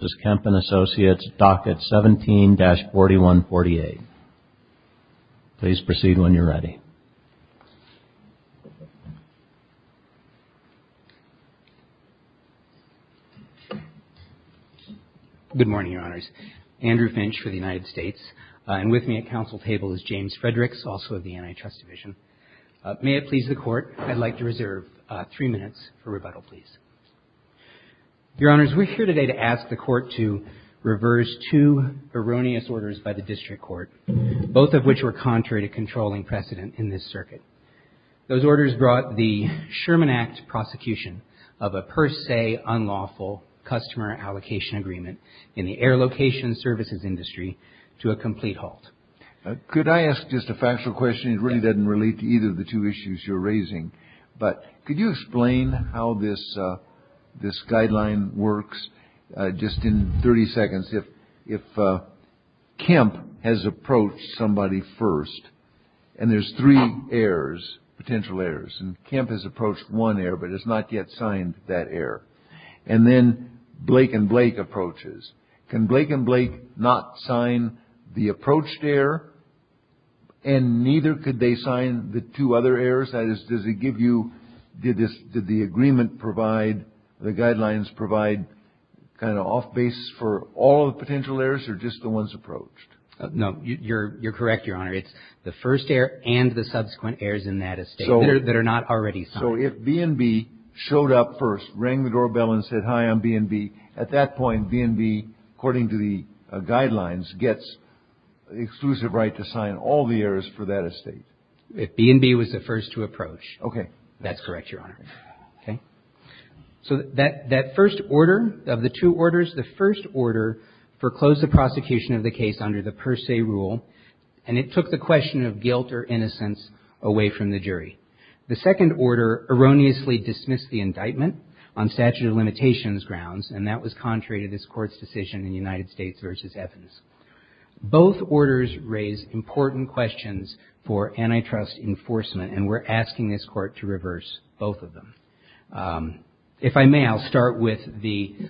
Docket 17-4148. Please proceed when you're ready. Good morning, Your Honors. Andrew Finch for the United States. And with me at council table is James Fredericks, also of the Antitrust Division. May it please the Court, I'd like to reserve three minutes for rebuttal, please. Your Honors, we're here today to ask the Court to reverse two erroneous orders by the District Court, both of which were contrary to controlling precedent in this circuit. Those orders brought the Sherman Act prosecution of a per se unlawful customer allocation agreement in the air location services industry to a complete halt. Could I ask just a factual question? It really doesn't relate to either of the two issues you're raising, but could you explain how this guideline works? Just in 30 seconds, if Kemp has approached somebody first, and there's three errors, potential errors, and Kemp has approached one error but has not yet signed that error, and then Blake & Blake approaches, can Blake & Blake not sign the approached error, and neither could they sign the two other errors? That is, does it give you, did the agreement provide, the guidelines provide kind of off-base for all the potential errors or just the ones approached? No, you're correct, Your Honor. It's the first error and the subsequent errors in that estate that are not already signed. So if B&B showed up first, rang the doorbell and said, hi, I'm B&B, at that point, B&B, according to the guidelines, gets exclusive right to sign all the errors for that estate. If B&B was the first to approach. Okay. That's correct, Your Honor. Okay. So that first order of the two orders, the first order foreclosed the prosecution of the case under the per se rule, and it took the question of guilt or innocence away from the jury. The second order erroneously dismissed the indictment on statute of limitations grounds, and that was contrary to this court's decision in United States v. Evans. Both orders raise important questions for antitrust enforcement, and we're asking this court to reverse both of them. If I may, I'll start with the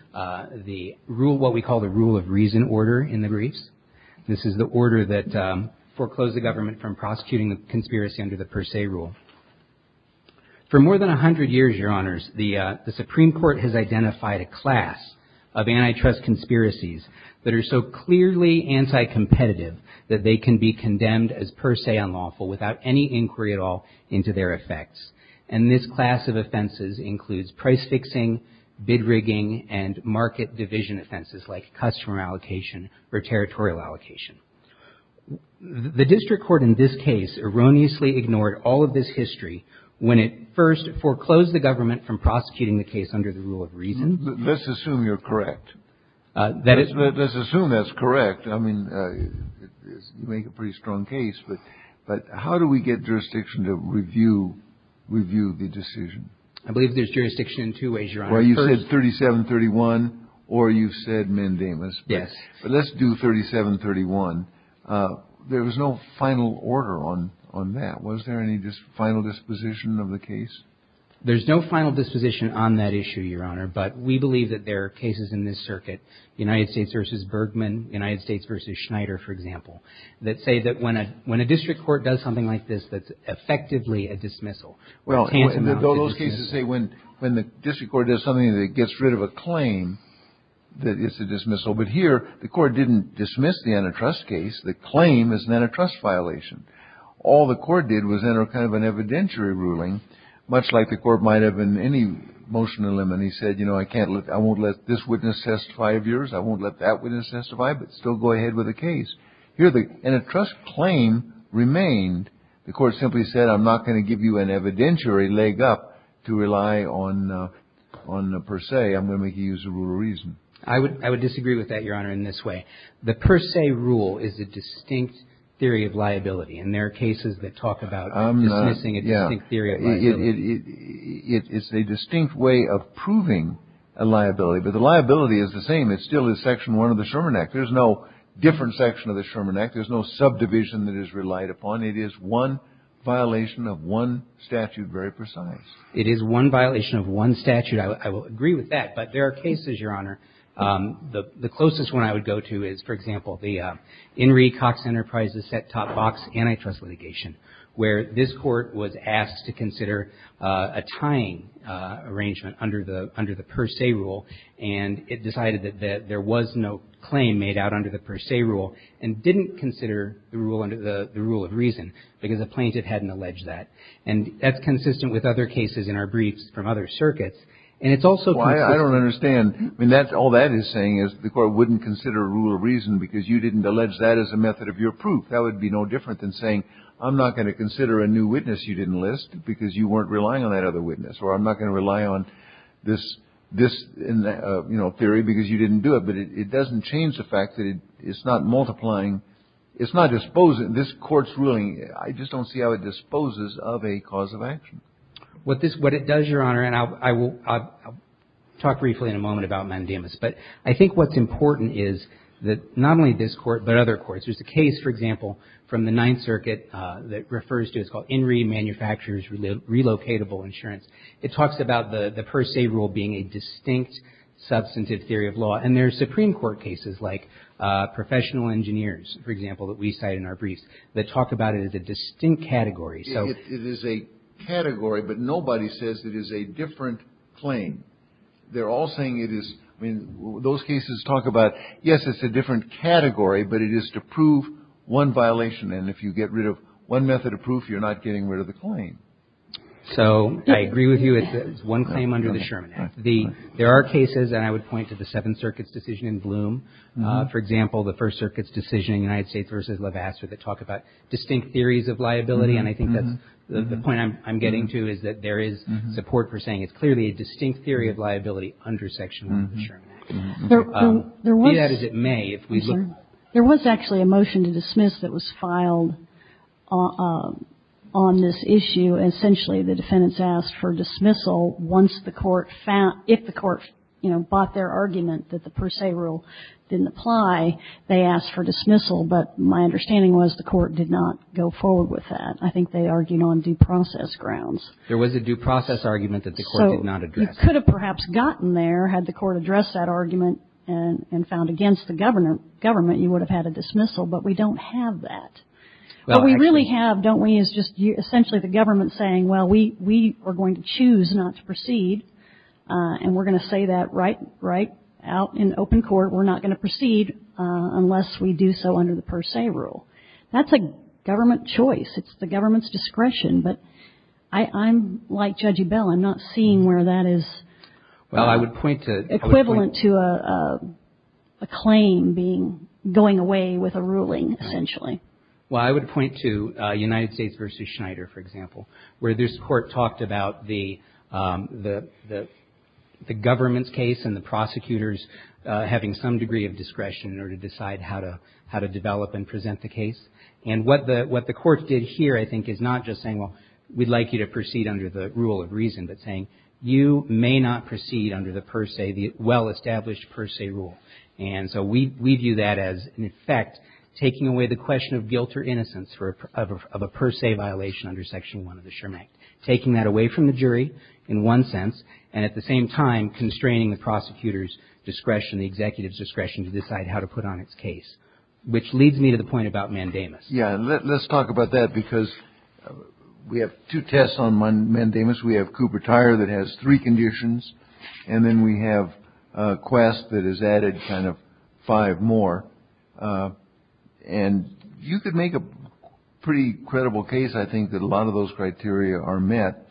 rule, what we call the rule of reason order in the briefs. This is the order that foreclosed the government from prosecuting a conspiracy under the per se rule. For more than 100 years, Your Honors, the Supreme Court has identified a class of antitrust conspiracies that are so clearly anti-competitive that they can be condemned as per se unlawful without any inquiry at all into their effects. And this class of offenses includes price fixing, bid rigging, and market division offenses like customer allocation or territorial allocation. The district court in this case erroneously ignored all of this history when it first foreclosed the government from prosecuting the case under the rule of reason. Let's assume you're correct. Let's assume that's correct. I mean, you make a pretty strong case, but how do we get jurisdiction to review the decision? I believe there's jurisdiction in two ways, Your Honor. Well, you said 3731, or you said mandamus. Yes. But let's do 3731. There was no final order on that. Was there any final disposition of the case? There's no final disposition on that issue, Your Honor, but we believe that there are cases in this circuit, United States v. Bergman, United States v. Schneider, for example, that say that when a district court does something like this, that's effectively a dismissal. Well, those cases say when the district court does something that gets rid of a claim, that it's a dismissal. But here, the court didn't dismiss the antitrust case. The claim is an antitrust violation. All the court did was enter kind of an evidentiary ruling, much like the court might have in any motion to limit. And he said, you know, I won't let this witness testify of yours. I won't let that witness testify, but still go ahead with the case. Here, the antitrust claim remained. The court simply said, I'm not going to give you an evidentiary leg up to rely on per se. I'm going to make you use a rule of reason. I would disagree with that, Your Honor, in this way. The per se rule is a distinct theory of liability. And there are cases that talk about dismissing a distinct theory of liability. It's a distinct way of proving a liability. But the liability is the same. It still is Section 1 of the Sherman Act. There's no different section of the Sherman Act. There's no subdivision that is relied upon. It is one violation of one statute, very precise. It is one violation of one statute. I will agree with that. But there are cases, Your Honor, the closest one I would go to is, for example, the Henry Cox Enterprises set-top box antitrust litigation, where this court was asked to consider a tying arrangement under the per se rule. And it decided that there was no claim made out under the per se rule and didn't consider the rule of reason because the plaintiff hadn't alleged that. And that's consistent with other cases in our briefs from other circuits. And it's also consistent. I don't understand. I mean, all that is saying is the court wouldn't consider a rule of reason because you didn't allege that as a method of your proof. That would be no different than saying, I'm not going to consider a new witness you didn't list because you weren't relying on that other witness. Or I'm not going to rely on this theory because you didn't do it. But it doesn't change the fact that it's not multiplying. It's not disposing. This Court's ruling, I just don't see how it disposes of a cause of action. What it does, Your Honor, and I'll talk briefly in a moment about mandamus. But I think what's important is that not only this Court but other courts. There's a case, for example, from the Ninth Circuit that refers to it. It's called In Re Manufactures Relocatable Insurance. It talks about the per se rule being a distinct substantive theory of law. And there are Supreme Court cases like professional engineers, for example, that we cite in our briefs that talk about it as a distinct category. It is a category, but nobody says it is a different claim. They're all saying it is. I mean, those cases talk about, yes, it's a different category, but it is to prove one violation. And if you get rid of one method of proof, you're not getting rid of the claim. So I agree with you. It's one claim under the Sherman Act. There are cases, and I would point to the Seventh Circuit's decision in Bloom. For example, the First Circuit's decision in United States v. Levasseur that talk about distinct theories of liability. And I think that's the point I'm getting to, is that there is support for saying it's clearly a distinct theory of liability under Section 1 of the Sherman Act. There was actually a motion to dismiss that was filed on this issue. Essentially, the defendants asked for dismissal once the Court found – if the Court, you know, bought their argument that the per se rule didn't apply, they asked for dismissal. But my understanding was the Court did not go forward with that. I think they argued on due process grounds. There was a due process argument that the Court did not address. So you could have perhaps gotten there had the Court addressed that argument and found against the government you would have had a dismissal. But we don't have that. What we really have, don't we, is just essentially the government saying, well, we are going to choose not to proceed, and we're going to say that right out in open court. We're not going to proceed unless we do so under the per se rule. That's a government choice. It's the government's discretion. But I'm like Judge Ebell. I'm not seeing where that is equivalent to a claim being – going away with a ruling, essentially. Well, I would point to United States v. Schneider, for example, where this Court talked about the government's case and the prosecutors having some degree of discretion in order to decide how to develop and present the case. And what the Court did here, I think, is not just saying, well, we'd like you to proceed under the rule of reason, but saying you may not proceed under the per se, the well-established per se rule. And so we view that as, in effect, taking away the question of guilt or innocence of a per se violation under Section 1 of the Sherman Act, taking that away from the jury in one sense, and at the same time constraining the prosecutor's discretion, the executive's discretion to decide how to put on its case, which leads me to the point about mandamus. Yeah. Let's talk about that, because we have two tests on mandamus. We have Cooper Tire that has three conditions. And then we have a quest that is added kind of five more. And you could make a pretty credible case. I think that a lot of those criteria are met.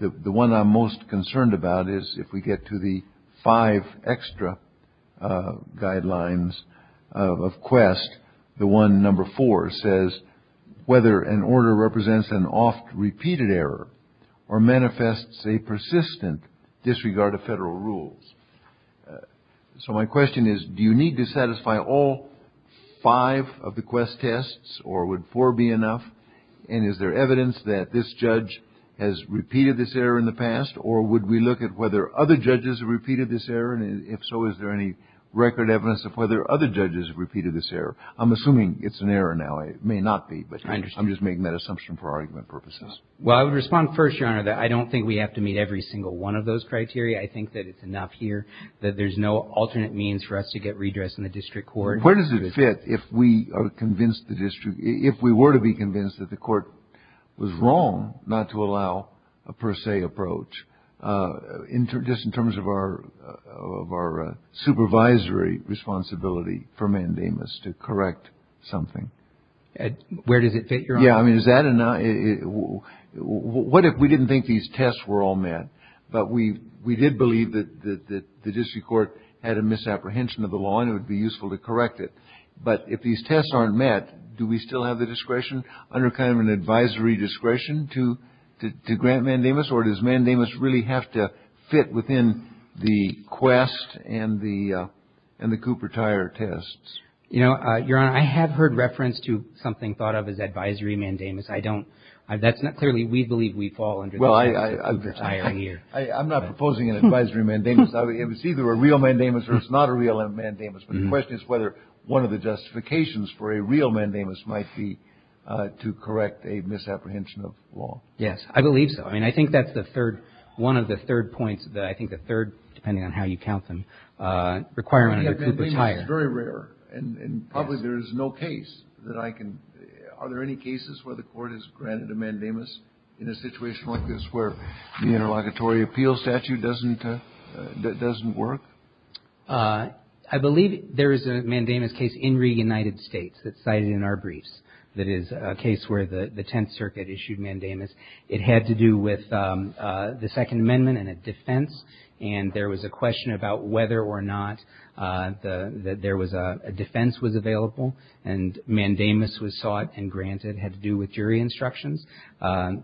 The one I'm most concerned about is if we get to the five extra guidelines of quest, the one number four says whether an order represents an oft-repeated error or manifests a persistent disregard of federal rules. So my question is, do you need to satisfy all five of the quest tests, or would four be enough? And is there evidence that this judge has repeated this error in the past, or would we look at whether other judges have repeated this error? And if so, is there any record evidence of whether other judges have repeated this error? I'm assuming it's an error now. It may not be, but I'm just making that assumption for argument purposes. Well, I would respond first, Your Honor, that I don't think we have to meet every single one of those criteria. I think that it's enough here that there's no alternate means for us to get redress in the district court. Where does it fit if we are convinced the district – if we were to be convinced that the court was wrong not to allow a per se approach, just in terms of our supervisory responsibility for mandamus to correct something? Where does it fit, Your Honor? Yeah, I mean, is that enough? What if we didn't think these tests were all met, but we did believe that the district court had a misapprehension of the law and it would be useful to correct it, but if these tests aren't met, do we still have the discretion under kind of an advisory discretion to grant mandamus? Or does mandamus really have to fit within the quest and the Cooper Tire tests? You know, Your Honor, I have heard reference to something thought of as advisory mandamus. I don't – that's not – clearly we believe we fall under the Cooper Tire here. I'm not proposing an advisory mandamus. It's either a real mandamus or it's not a real mandamus. But the question is whether one of the justifications for a real mandamus might be to correct a misapprehension of law. Yes, I believe so. I mean, I think that's the third – one of the third points that – I think the third, depending on how you count them, requirement under Cooper Tire. We have mandamus. It's very rare. And probably there is no case that I can – are there any cases where the court has granted a mandamus in a situation like this where the interlocutory appeal statute doesn't work? I believe there is a mandamus case in re-United States that's cited in our briefs that is a case where the Tenth Circuit issued mandamus. It had to do with the Second Amendment and a defense. And there was a question about whether or not there was a – a defense was available and mandamus was sought and granted. It had to do with jury instructions.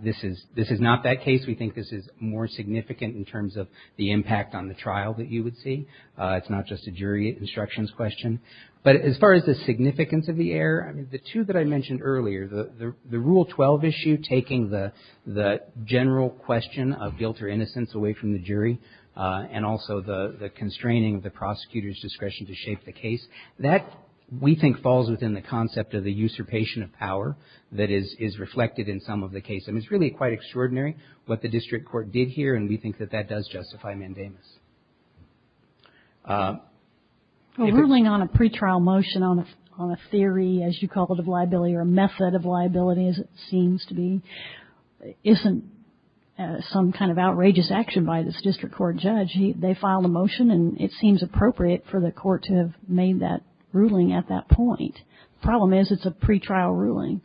This is – this is not that case. We think this is more significant in terms of the impact on the trial that you would see. It's not just a jury instructions question. But as far as the significance of the error, the two that I mentioned earlier, the Rule 12 issue taking the general question of guilt or innocence away from the jury and also the constraining of the prosecutor's discretion to shape the case, that we think falls within the concept of the usurpation of power that is reflected in some of the cases. I mean, it's really quite extraordinary what the district court did here, and we think that that does justify mandamus. If it's – Well, ruling on a pretrial motion on a theory, as you call it, of liability or a method of liability, as it seems to be, isn't some kind of outrageous action by this district court judge. They filed a motion, and it seems appropriate for the court to have made that ruling at that point. The problem is it's a pretrial ruling.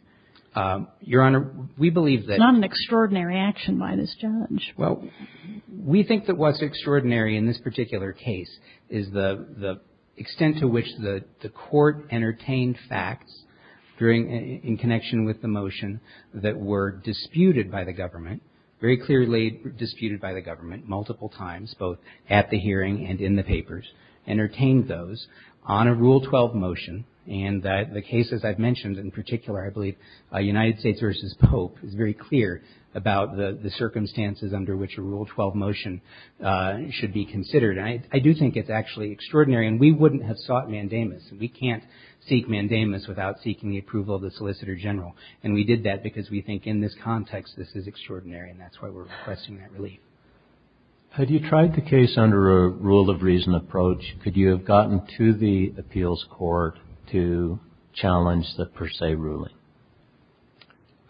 Your Honor, we believe that – It's not an extraordinary action by this judge. Well, we think that what's extraordinary in this particular case is the extent to which the court entertained facts during – in connection with the motion that were disputed by the government, very clearly disputed by the government multiple times, both at the hearing and in the papers, entertained those on a Rule 12 motion. And the cases I've mentioned, in particular, I believe United States v. Pope, is very clear about the circumstances under which a Rule 12 motion should be considered. And I do think it's actually extraordinary. And we wouldn't have sought mandamus. We can't seek mandamus without seeking the approval of the Solicitor General. And we did that because we think in this context this is extraordinary, and that's why we're requesting that relief. Had you tried the case under a rule-of-reason approach, could you have gotten to the appeals court to challenge the per se ruling?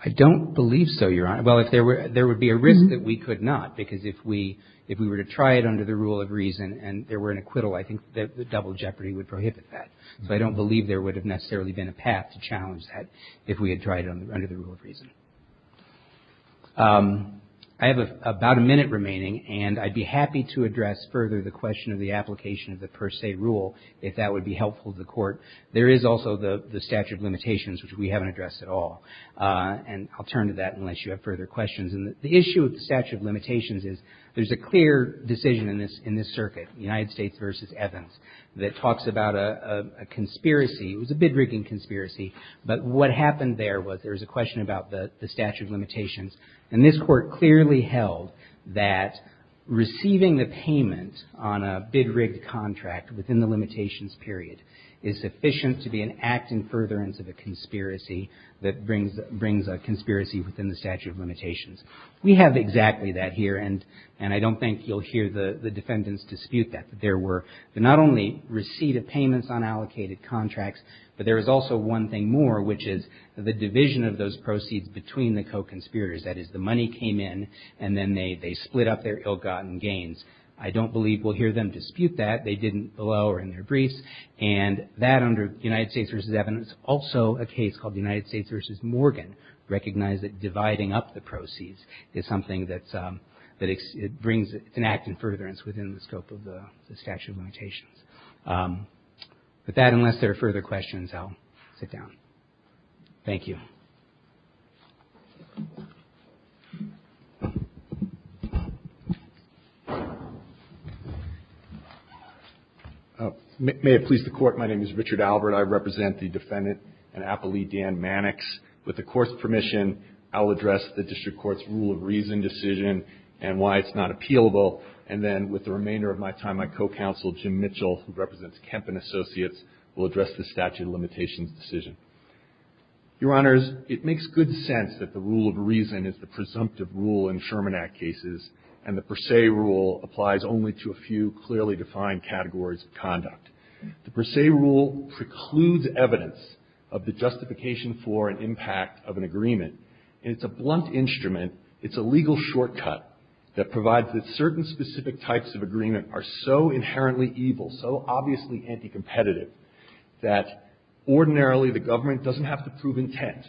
I don't believe so, Your Honor. Well, if there were – there would be a risk that we could not, because if we – if we were to try it under the rule of reason and there were an acquittal, I think the double jeopardy would prohibit that. So I don't believe there would have necessarily been a path to challenge that if we had tried it under the rule of reason. I have about a minute remaining, and I'd be happy to address further the question of the application of the per se rule if that would be helpful to the Court. There is also the statute of limitations, which we haven't addressed at all. And I'll turn to that unless you have further questions. And the issue with the statute of limitations is there's a clear decision in this circuit, United States v. Evans, that talks about a conspiracy. It was a bid-rigging conspiracy. But what happened there was there was a question about the statute of limitations. And this Court clearly held that receiving the payment on a bid-rigged contract within the limitations period is sufficient to be an act in furtherance of a conspiracy that brings a conspiracy within the statute of limitations. We have exactly that here, and I don't think you'll hear the defendants dispute that, that there were not only receipt of payments on allocated contracts, but there was also one thing more, which is the division of those proceeds between the co-conspirators. That is, the money came in, and then they split up their ill-gotten gains. I don't believe we'll hear them dispute that. They didn't below or in their briefs. And that, under United States v. Evans, also a case called United States v. Morgan, recognized that dividing up the proceeds is something that brings an act in furtherance within the scope of the statute of limitations. With that, unless there are further questions, I'll sit down. Thank you. May it please the Court. My name is Richard Albert. I represent the defendant and appellee, Dan Mannix. With the Court's permission, I'll address the district court's rule of reason decision and why it's not appealable. And then, with the remainder of my time, my co-counsel, Jim Mitchell, who represents Kemp and Associates, will address the statute of limitations decision. Your Honors, it makes good sense that the rule of reason is the presumptive rule in Sherman Act cases, and the per se rule applies only to a few clearly defined categories of conduct. The per se rule precludes evidence of the justification for an impact of an agreement. And it's a blunt instrument. It's a legal shortcut that provides that certain specific types of agreement are so inherently evil, so obviously anticompetitive, that ordinarily the government doesn't have to prove intent.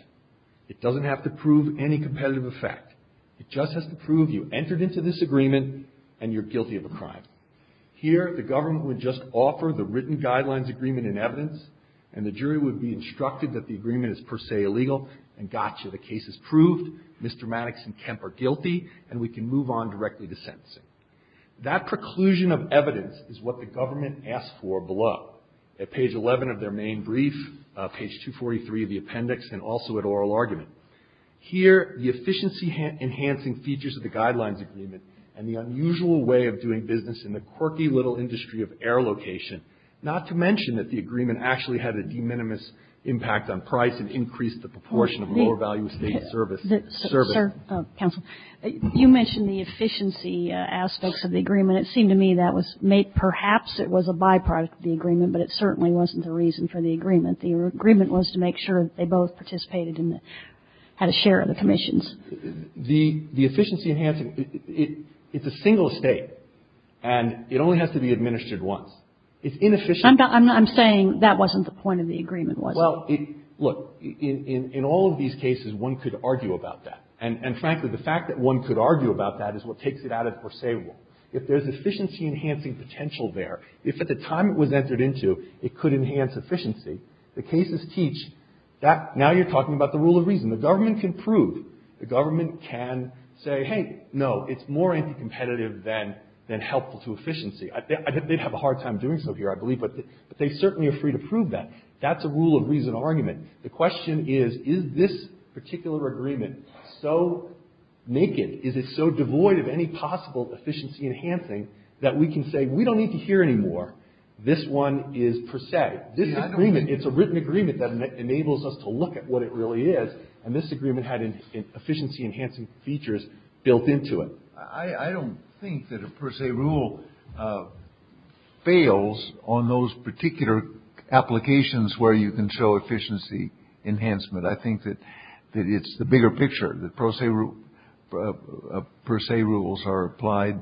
It doesn't have to prove any competitive effect. It just has to prove you entered into this agreement, and you're guilty of a crime. Here, the government would just offer the written guidelines agreement in evidence, and the jury would be instructed that the agreement is per se illegal, and gotcha, the case is proved, Mr. Mannix and Kemp are guilty, and we can move on directly to sentencing. That preclusion of evidence is what the government asks for below. At page 11 of their main brief, page 243 of the appendix, and also at oral argument. Here, the efficiency enhancing features of the guidelines agreement, and the unusual way of doing business in the quirky little industry of air location, not to mention that the agreement actually had a de minimis impact on price and increased the proportion of lower value estate service. Service. Counsel, you mentioned the efficiency aspects of the agreement. And it seemed to me that was made perhaps it was a byproduct of the agreement, but it certainly wasn't the reason for the agreement. The agreement was to make sure that they both participated and had a share of the commissions. The efficiency enhancing, it's a single estate, and it only has to be administered once. It's inefficient. I'm saying that wasn't the point of the agreement, was it? Well, look. In all of these cases, one could argue about that. And frankly, the fact that one could argue about that is what takes it out of the per se rule. If there's efficiency enhancing potential there, if at the time it was entered into, it could enhance efficiency, the cases teach that now you're talking about the rule of reason. The government can prove. The government can say, hey, no, it's more anti-competitive than helpful to efficiency. They'd have a hard time doing so here, I believe, but they certainly are free to prove that. That's a rule of reason argument. The question is, is this particular agreement so naked, is it so devoid of any possible efficiency enhancing that we can say, we don't need to hear anymore, this one is per se. This agreement, it's a written agreement that enables us to look at what it really is, and this agreement had efficiency enhancing features built into it. I don't think that a per se rule fails on those particular applications where you can show efficiency enhancement. I think that it's the bigger picture, the per se rules are applied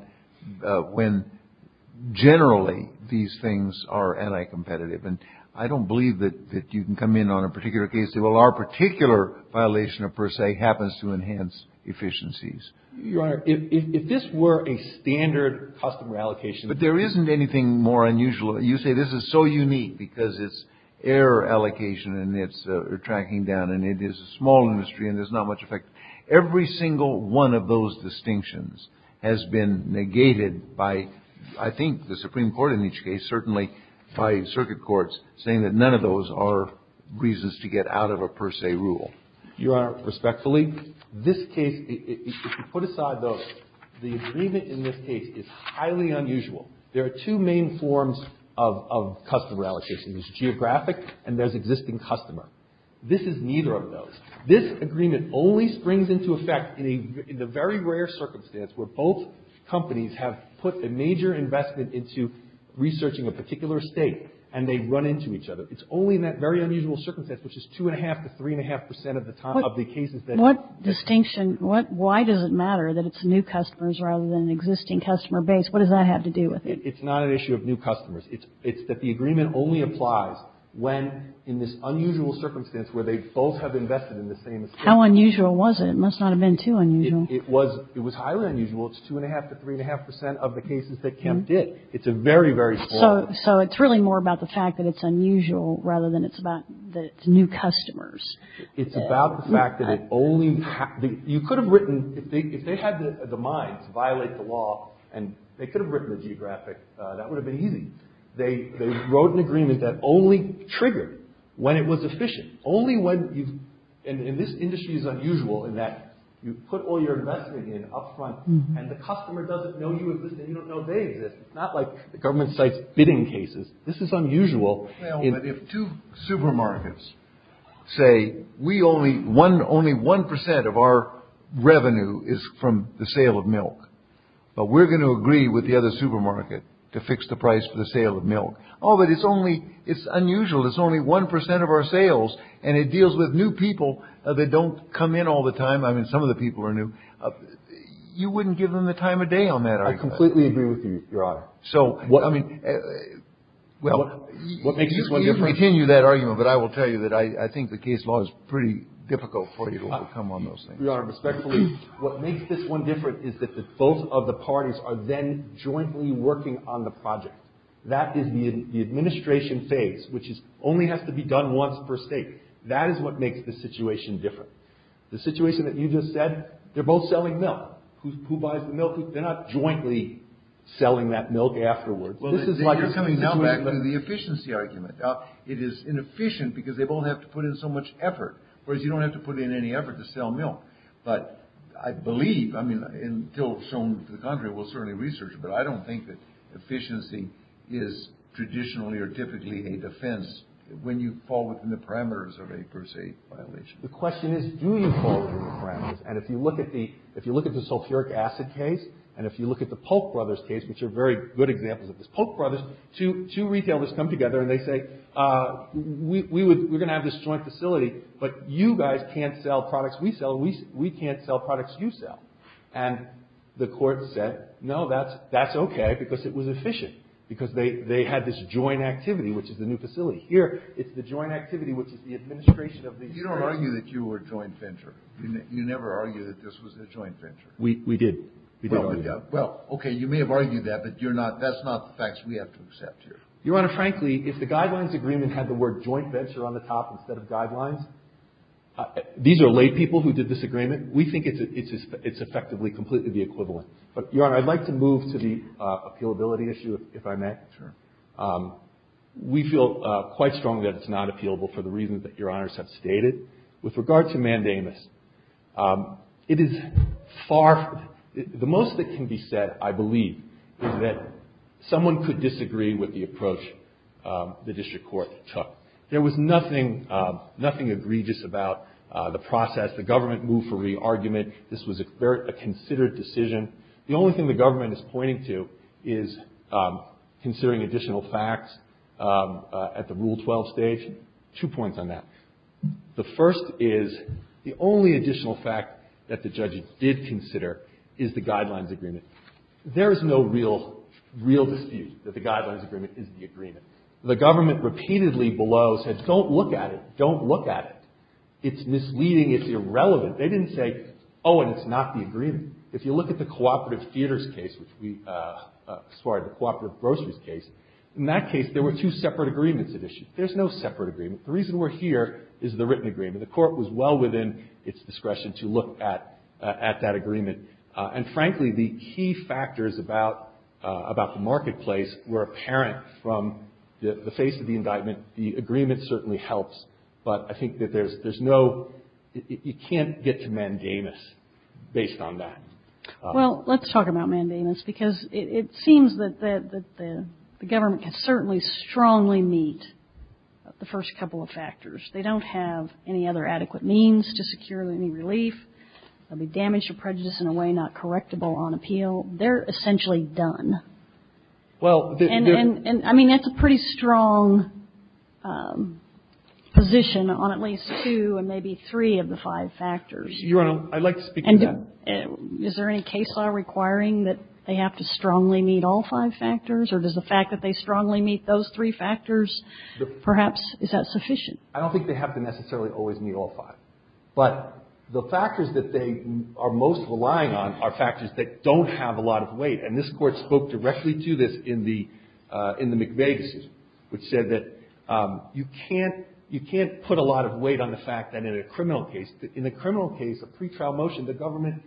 when generally these things are anti-competitive, and I don't believe that you can come in on a particular case and say, well, our particular violation of per se happens to enhance efficiencies. Your Honor, if this were a standard customer allocation. But there isn't anything more unusual. You say this is so unique because it's error allocation and it's tracking down and it is a small industry and there's not much effect. Every single one of those distinctions has been negated by, I think, the Supreme Court in each case, certainly by circuit courts, saying that none of those are reasons to get out of a per se rule. Your Honor, respectfully, this case, if you put aside those, the agreement in this case is highly unusual. There are two main forms of customer allocation. There's geographic and there's existing customer. This is neither of those. This agreement only springs into effect in the very rare circumstance where both companies have put a major investment into researching a particular state and they run into each other. It's only in that very unusual circumstance, which is two and a half to three and a half percent of the cases. What distinction, why does it matter that it's new customers rather than existing customer base? What does that have to do with it? It's not an issue of new customers. It's that the agreement only applies when in this unusual circumstance where they both have invested in the same estate. How unusual was it? It must not have been too unusual. It was highly unusual. It's two and a half to three and a half percent of the cases that Kemp did. It's a very, very small. So it's really more about the fact that it's unusual rather than it's about that it's new customers. It's about the fact that it only, you could have written, if they had the minds to violate the law and they could have written the geographic, that would have been easy. They wrote an agreement that only triggered when it was efficient. Only when, and this industry is unusual in that you put all your investment in up front and the customer doesn't know you exist and you don't know they exist. It's not like the government cites bidding cases. This is unusual. Well, but if two supermarkets say we only, one, only one percent of our revenue is from the sale of milk, but we're going to agree with the other supermarket to fix the price for the sale of milk. Oh, but it's only, it's unusual. It's only one percent of our sales and it deals with new people that don't come in all the time. I mean, some of the people are new. You wouldn't give them the time of day on that. I completely agree with you, Your Honor. So, I mean, well, what makes this one different? You can continue that argument, but I will tell you that I think the case law is pretty difficult for you to overcome on those things. Your Honor, respectfully, what makes this one different is that both of the parties are then jointly working on the project. That is the administration phase, which only has to be done once per state. That is what makes the situation different. The situation that you just said, they're both selling milk. Who buys the milk? They're not jointly selling that milk afterwards. Well, you're coming now back to the efficiency argument. Now, it is inefficient because they both have to put in so much effort, whereas you don't have to put in any effort to sell milk. But I believe, I mean, until shown to the contrary, we'll certainly research it, but I don't think that efficiency is traditionally or typically a defense when you fall within the parameters of a per state violation. The question is, do you fall within the parameters? And if you look at the sulfuric acid case, and if you look at the Polk Brothers case, which are very good examples of this, Polk Brothers, two retailers come together and they say, we're going to have this joint facility, but you guys can't sell products we sell, and we can't sell products you sell. And the Court said, no, that's okay, because it was efficient, because they had this joint activity, which is the new facility. Here, it's the joint activity, which is the administration of these products. You don't argue that you were joint venture. You never argue that this was a joint venture. We did. Well, okay, you may have argued that, but you're not, that's not the facts we have to accept here. Your Honor, frankly, if the guidelines agreement had the word joint venture on the top instead of guidelines, these are lay people who did this agreement. We think it's effectively completely the equivalent. But, Your Honor, I'd like to move to the appealability issue, if I may. Sure. We feel quite strongly that it's not appealable for the reasons that Your Honors have stated. With regard to mandamus, it is far, the most that can be said, I believe, is that someone could disagree with the approach the District Court took. There was nothing, nothing egregious about the process. The government moved for re-argument. This was a considered decision. The only thing the government is pointing to is considering additional facts at the Rule 12 stage. Two points on that. The first is the only additional fact that the judges did consider is the guidelines agreement. There is no real, real dispute that the guidelines agreement is the agreement. The government repeatedly below said, don't look at it, don't look at it. It's misleading, it's irrelevant. They didn't say, oh, and it's not the agreement. If you look at the cooperative theaters case, which we, sorry, the cooperative groceries case, in that case there were two separate agreements at issue. There's no separate agreement. The reason we're here is the written agreement. The Court was well within its discretion to look at that agreement. And frankly, the key factors about the marketplace were apparent from the face of the indictment. The agreement certainly helps, but I think that there's no, you can't get to mandamus based on that. Well, let's talk about mandamus, because it seems that the government can certainly strongly meet the first couple of factors. They don't have any other adequate means to secure any relief. There will be damage to prejudice in a way not correctable on appeal. They're essentially done. Well, there's no. And I mean, that's a pretty strong position on at least two and maybe three of the five factors. Your Honor, I'd like to speak to that. And is there any case law requiring that they have to strongly meet all five factors, or does the fact that they strongly meet those three factors, perhaps, is that sufficient? I don't think they have to necessarily always meet all five. But the factors that they are most relying on are factors that don't have a lot of weight. And this Court spoke directly to this in the McVeigh decision, which said that you can't put a lot of weight on the fact that in a criminal case, in the criminal case, a pretrial motion, the government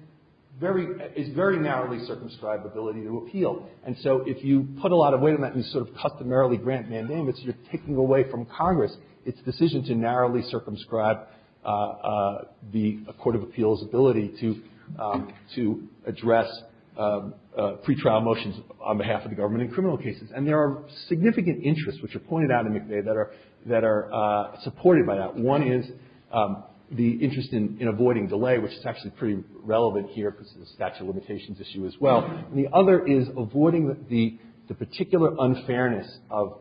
is very narrowly circumscribed ability to appeal. And so if you put a lot of weight on that and sort of customarily grant mandamits, you're taking away from Congress its decision to narrowly circumscribe the Court of Appeals' ability to address pretrial motions on behalf of the government in criminal cases. And there are significant interests, which are pointed out in McVeigh, that are supported by that. One is the interest in avoiding delay, which is actually pretty relevant here because of the statute of limitations issue as well. And the other is avoiding the particular unfairness of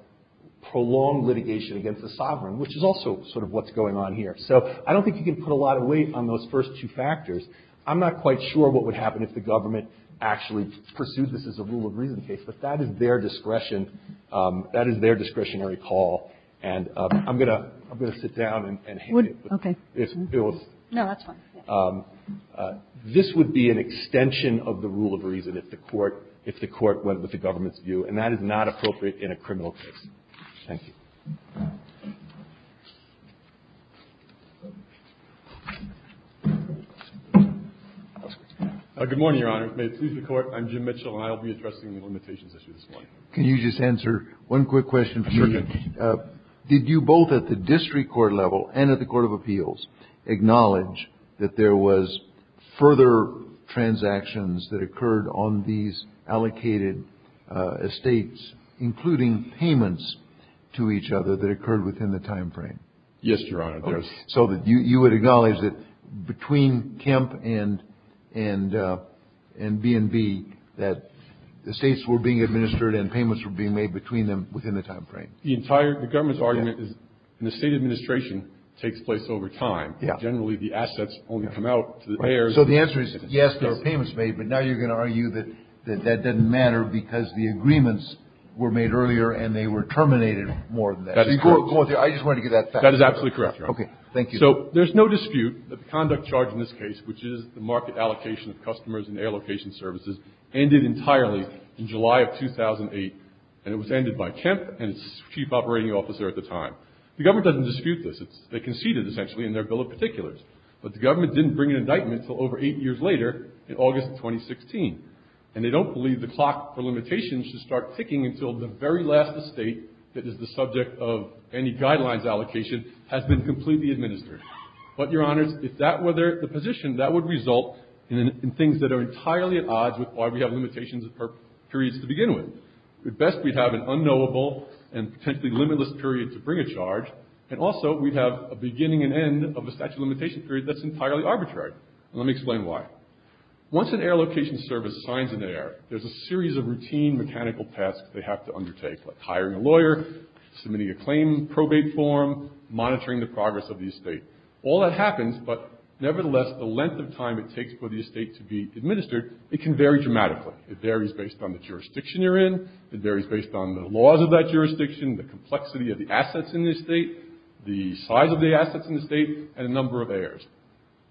prolonged litigation against the sovereign, which is also sort of what's going on here. So I don't think you can put a lot of weight on those first two factors. I'm not quite sure what would happen if the government actually pursued this as a rule of reason case. But that is their discretion. That is their discretionary call. And I'm going to sit down and hit it. Kagan. No, that's fine. This would be an extension of the rule of reason if the Court went with the government's view. And that is not appropriate in a criminal case. Thank you. Good morning, Your Honor. May it please the Court. I'm Jim Mitchell, and I'll be addressing the limitations issue this morning. Can you just answer one quick question for me? Sure. Did you both at the district court level and at the Court of Appeals acknowledge that there was further transactions that occurred on these allocated estates, including payments to each other, that occurred within the timeframe? Yes, Your Honor. So you would acknowledge that between Kemp and B&B that estates were being administered and payments were being made between them within the timeframe? The entire government's argument is the state administration takes place over time. Yeah. Generally, the assets only come out to the heirs. So the answer is, yes, there are payments made, but now you're going to argue that that doesn't matter because the agreements were made earlier and they were terminated more than that. That is correct. I just wanted to get that fact. That is absolutely correct, Your Honor. Okay. Thank you. So there's no dispute that the conduct charge in this case, which is the market allocation of customers and air location services, ended entirely in July of 2008. And it was ended by Kemp and its chief operating officer at the time. The government doesn't dispute this. They conceded, essentially, in their bill of particulars. But the government didn't bring an indictment until over eight years later in August of 2016. And they don't believe the clock for limitations should start ticking until the very last estate that is the subject of any guidelines allocation has been completely administered. But, Your Honors, if that were the position, that would result in things that are entirely at odds with why we have limitations for periods to begin with. At best, we'd have an unknowable and potentially limitless period to bring a charge, and also we'd have a beginning and end of a statute of limitations period that's entirely arbitrary. Let me explain why. Once an air location service signs an error, there's a series of routine mechanical tasks they have to undertake, like hiring a lawyer, submitting a claim probate form, monitoring the progress of the estate. All that happens, but nevertheless, the length of time it takes for the estate to be administered, it can vary dramatically. It varies based on the jurisdiction you're in. It varies based on the laws of that jurisdiction, the complexity of the assets in the estate, the size of the assets in the estate, and the number of heirs.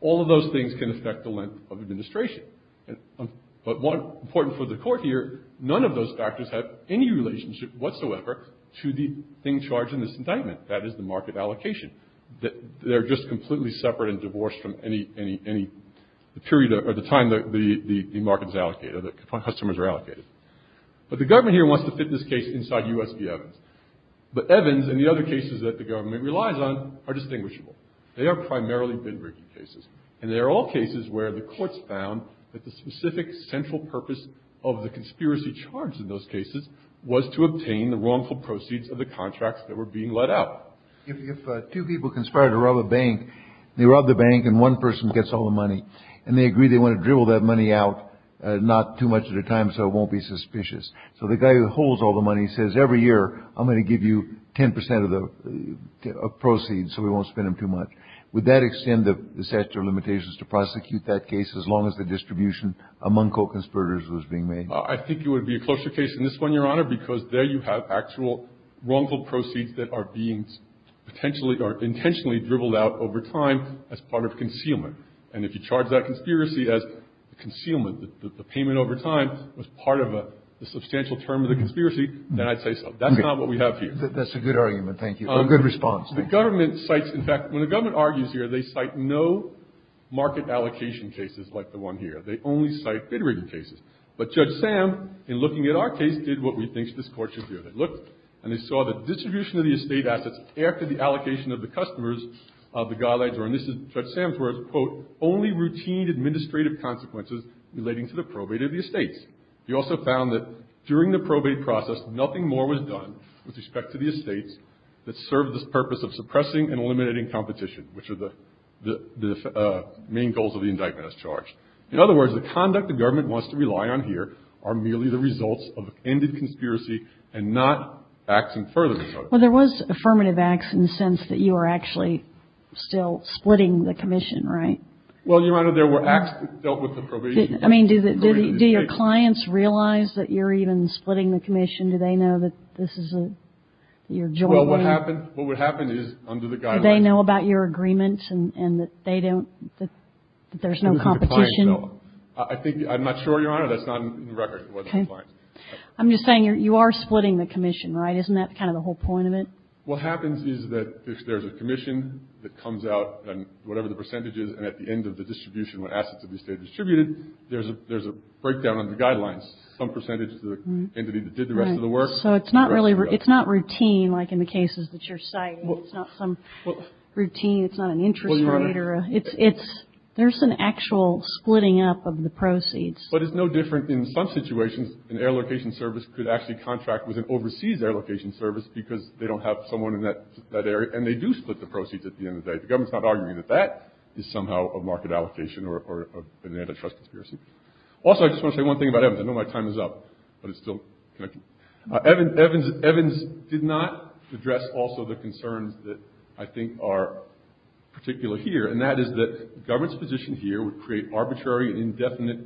All of those things can affect the length of administration. But more important for the court here, none of those factors have any relationship whatsoever to the thing charged in this indictment. That is the market allocation. They're just completely separate and divorced from any period or the time the market is allocated, or the customers are allocated. But the government here wants to fit this case inside U.S. v. Evans. But Evans and the other cases that the government relies on are distinguishable. They are primarily bin rigging cases. And they are all cases where the courts found that the specific central purpose of the conspiracy charged in those cases was to obtain the wrongful proceeds of the contracts that were being let out. If two people conspire to rob a bank, they rob the bank and one person gets all the money, and they agree they want to dribble that money out not too much at a time so it won't be suspicious. So the guy who holds all the money says every year I'm going to give you 10 percent of the proceeds so we won't spend them too much. Would that extend the statute of limitations to prosecute that case as long as the distribution among co-conspirators was being made? I think it would be a closer case than this one, Your Honor, because there you have actual wrongful proceeds that are being intentionally dribbled out over time as part of concealment. And if you charge that conspiracy as concealment, that the payment over time was part of a substantial term of the conspiracy, then I'd say so. That's not what we have here. That's a good argument. Thank you. Good response. The government cites, in fact, when the government argues here, they cite no market allocation cases like the one here. They only cite bin rigging cases. But Judge Sam, in looking at our case, did what we think this Court should do. They looked and they saw that distribution of the estate assets after the allocation of the customers of the guidelines were, and this is Judge Sam's words, quote, only routine administrative consequences relating to the probate of the estates. He also found that during the probate process, nothing more was done with respect to the estates that served the purpose of suppressing and eliminating competition, which are the main goals of the indictment as charged. In other words, the conduct the government wants to rely on here are merely the results of a candid conspiracy and not acts in furtherness of it. Well, there was affirmative acts in the sense that you are actually still splitting the commission, right? Well, Your Honor, there were acts that dealt with the probation case. I mean, do your clients realize that you're even splitting the commission? Do they know that this is a, that you're jointly? Well, what happened is under the guidelines. Do they know about your agreement and that they don't, that there's no competition? I think, I'm not sure, Your Honor, that's not in the record. I'm just saying you are splitting the commission, right? Isn't that kind of the whole point of it? What happens is that if there's a commission that comes out, and whatever the percentage is, and at the end of the distribution, when assets have been distributed, there's a breakdown of the guidelines. Some percentage to the entity that did the rest of the work. So it's not really, it's not routine like in the cases that you're citing. It's not some routine. It's not an interest rate. Well, Your Honor. It's, there's an actual splitting up of the proceeds. But it's no different in some situations. An air location service could actually contract with an overseas air location service because they don't have someone in that area, and they do split the proceeds at the end of the day. The government's not arguing that that is somehow a market allocation or an antitrust conspiracy. Also, I just want to say one thing about Evans. I know my time is up, but it's still connected. Evans did not address also the concerns that I think are particular here, and that is that the government's position here would create arbitrary and indefinite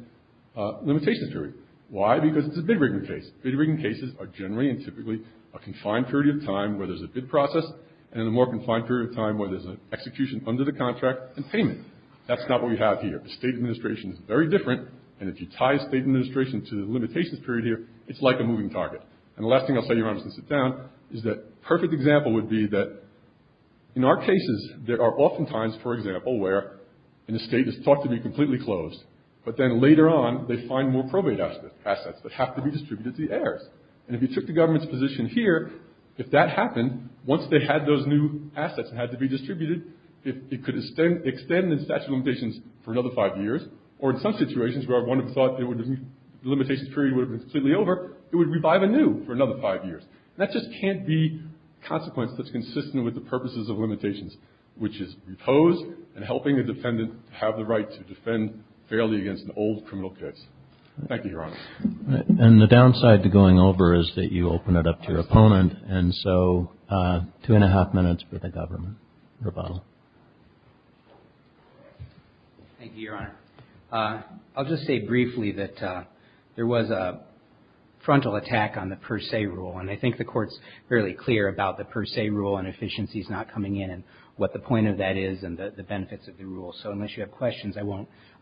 limitations to it. Why? Because it's a bid-rigging case. Bid-rigging cases are generally and typically a confined period of time where there's a bid process, and a more confined period of time where there's an execution under the contract and payment. That's not what we have here. The state administration is very different, and if you tie state administration to the limitations period here, it's like a moving target. And the last thing I'll say, Your Honor, just to sit down, is that a perfect example would be that in our cases there are often times, for example, where an estate is thought to be completely closed, but then later on they find more probate assets that have to be distributed to the airs. And if you took the government's position here, if that happened, once they had those new assets that had to be distributed, it could extend the statute of limitations for another five years, or in some situations where one thought the limitations period would have been completely over, it would revive anew for another five years. And that just can't be a consequence that's consistent with the purposes of limitations, which is repose and helping a defendant have the right to defend fairly against an old criminal case. Thank you, Your Honor. And the downside to going over is that you open it up to your opponent, and so two and a half minutes for the government rebuttal. Thank you, Your Honor. I'll just say briefly that there was a frontal attack on the per se rule, and I think the Court's fairly clear about the per se rule and efficiencies not coming in and what the point of that is and the benefits of the rule. So unless you have questions, I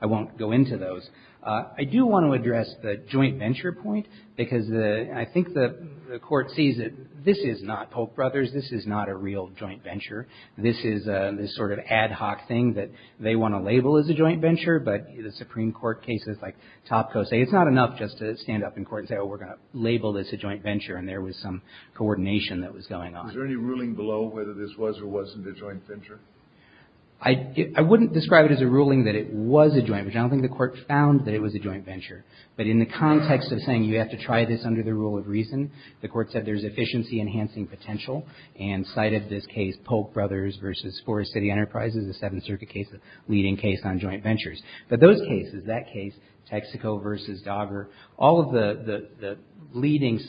won't go into those. I do want to address the joint venture point, because I think the Court sees that this is not Pope Brothers. This is not a real joint venture. This is this sort of ad hoc thing that they want to label as a joint venture, but the Supreme Court cases like Topko say it's not enough just to stand up in court and say, oh, we're going to label this a joint venture, and there was some coordination that was going on. Is there any ruling below whether this was or wasn't a joint venture? I wouldn't describe it as a ruling that it was a joint venture. I don't think the Court found that it was a joint venture. But in the context of saying you have to try this under the rule of reason, the Court said there's efficiency-enhancing potential and cited this case, Pope Brothers v. Forest City Enterprises, the Seventh Circuit case, the leading case on joint ventures. But those cases, that case, Texaco v. Dogger, all of the leading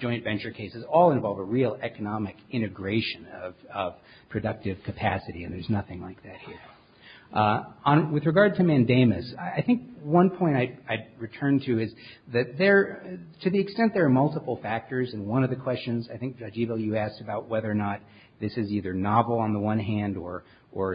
joint venture cases all involve a real economic integration of productive capacity, and there's nothing like that here. With regard to mandamus, I think one point I'd return to is that there, to the extent there are multiple factors in one of the questions, I think, Judge Ebel, you asked about whether or not this is either novel on the one hand or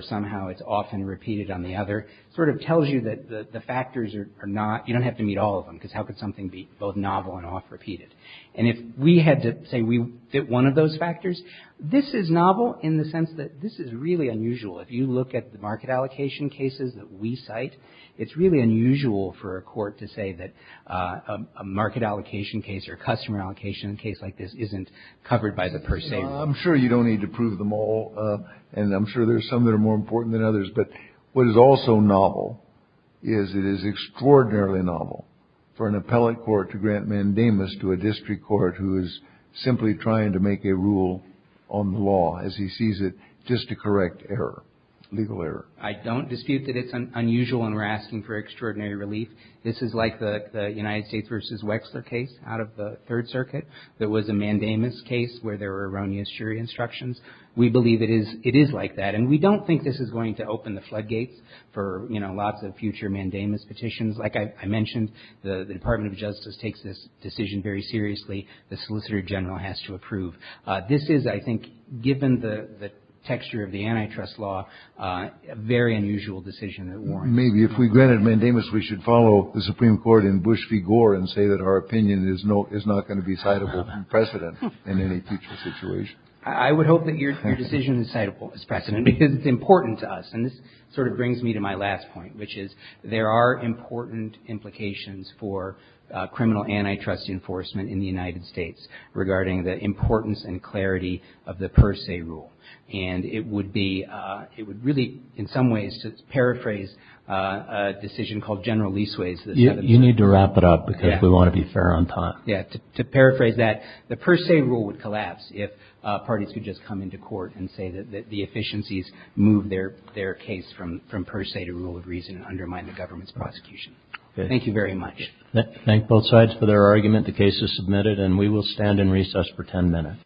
somehow it's often repeated on the other. It sort of tells you that the factors are not, you don't have to meet all of them, because how could something be both novel and oft repeated? And if we had to say we fit one of those factors, this is novel in the sense that this is really unusual. If you look at the market allocation cases that we cite, it's really unusual for a court to say that a market allocation case or a customer allocation case like this isn't covered by the per se rule. I'm sure you don't need to prove them all, and I'm sure there's some that are more important than others, but what is also novel is it is extraordinarily novel for an appellate court to grant mandamus to a district court who is simply trying to make a rule on the law, as he sees it, just to correct error, legal error. I don't dispute that it's unusual and we're asking for extraordinary relief. This is like the United States v. Wexler case out of the Third Circuit that was a mandamus case where there were erroneous jury instructions. We believe it is like that, and we don't think this is going to open the floodgates for, you know, lots of future mandamus petitions. Like I mentioned, the Department of Justice takes this decision very seriously. The Solicitor General has to approve. This is, I think, given the texture of the antitrust law, a very unusual decision at warrants. Maybe if we granted mandamus, we should follow the Supreme Court in Bush v. Gore and say that our opinion is not going to be citable precedent in any future situation. I would hope that your decision is citable precedent because it's important to us, and this sort of brings me to my last point, which is there are important implications for criminal antitrust enforcement in the United States regarding the importance and clarity of the per se rule. And it would be, it would really in some ways paraphrase a decision called General Leaseways. You need to wrap it up because we want to be fair on time. Yeah, to paraphrase that, the per se rule would collapse if parties could just come into court and say that the efficiencies move their case from per se to rule of reason and undermine the government's prosecution. Thank you very much. Thank both sides for their argument. The case is submitted, and we will stand in recess for 10 minutes.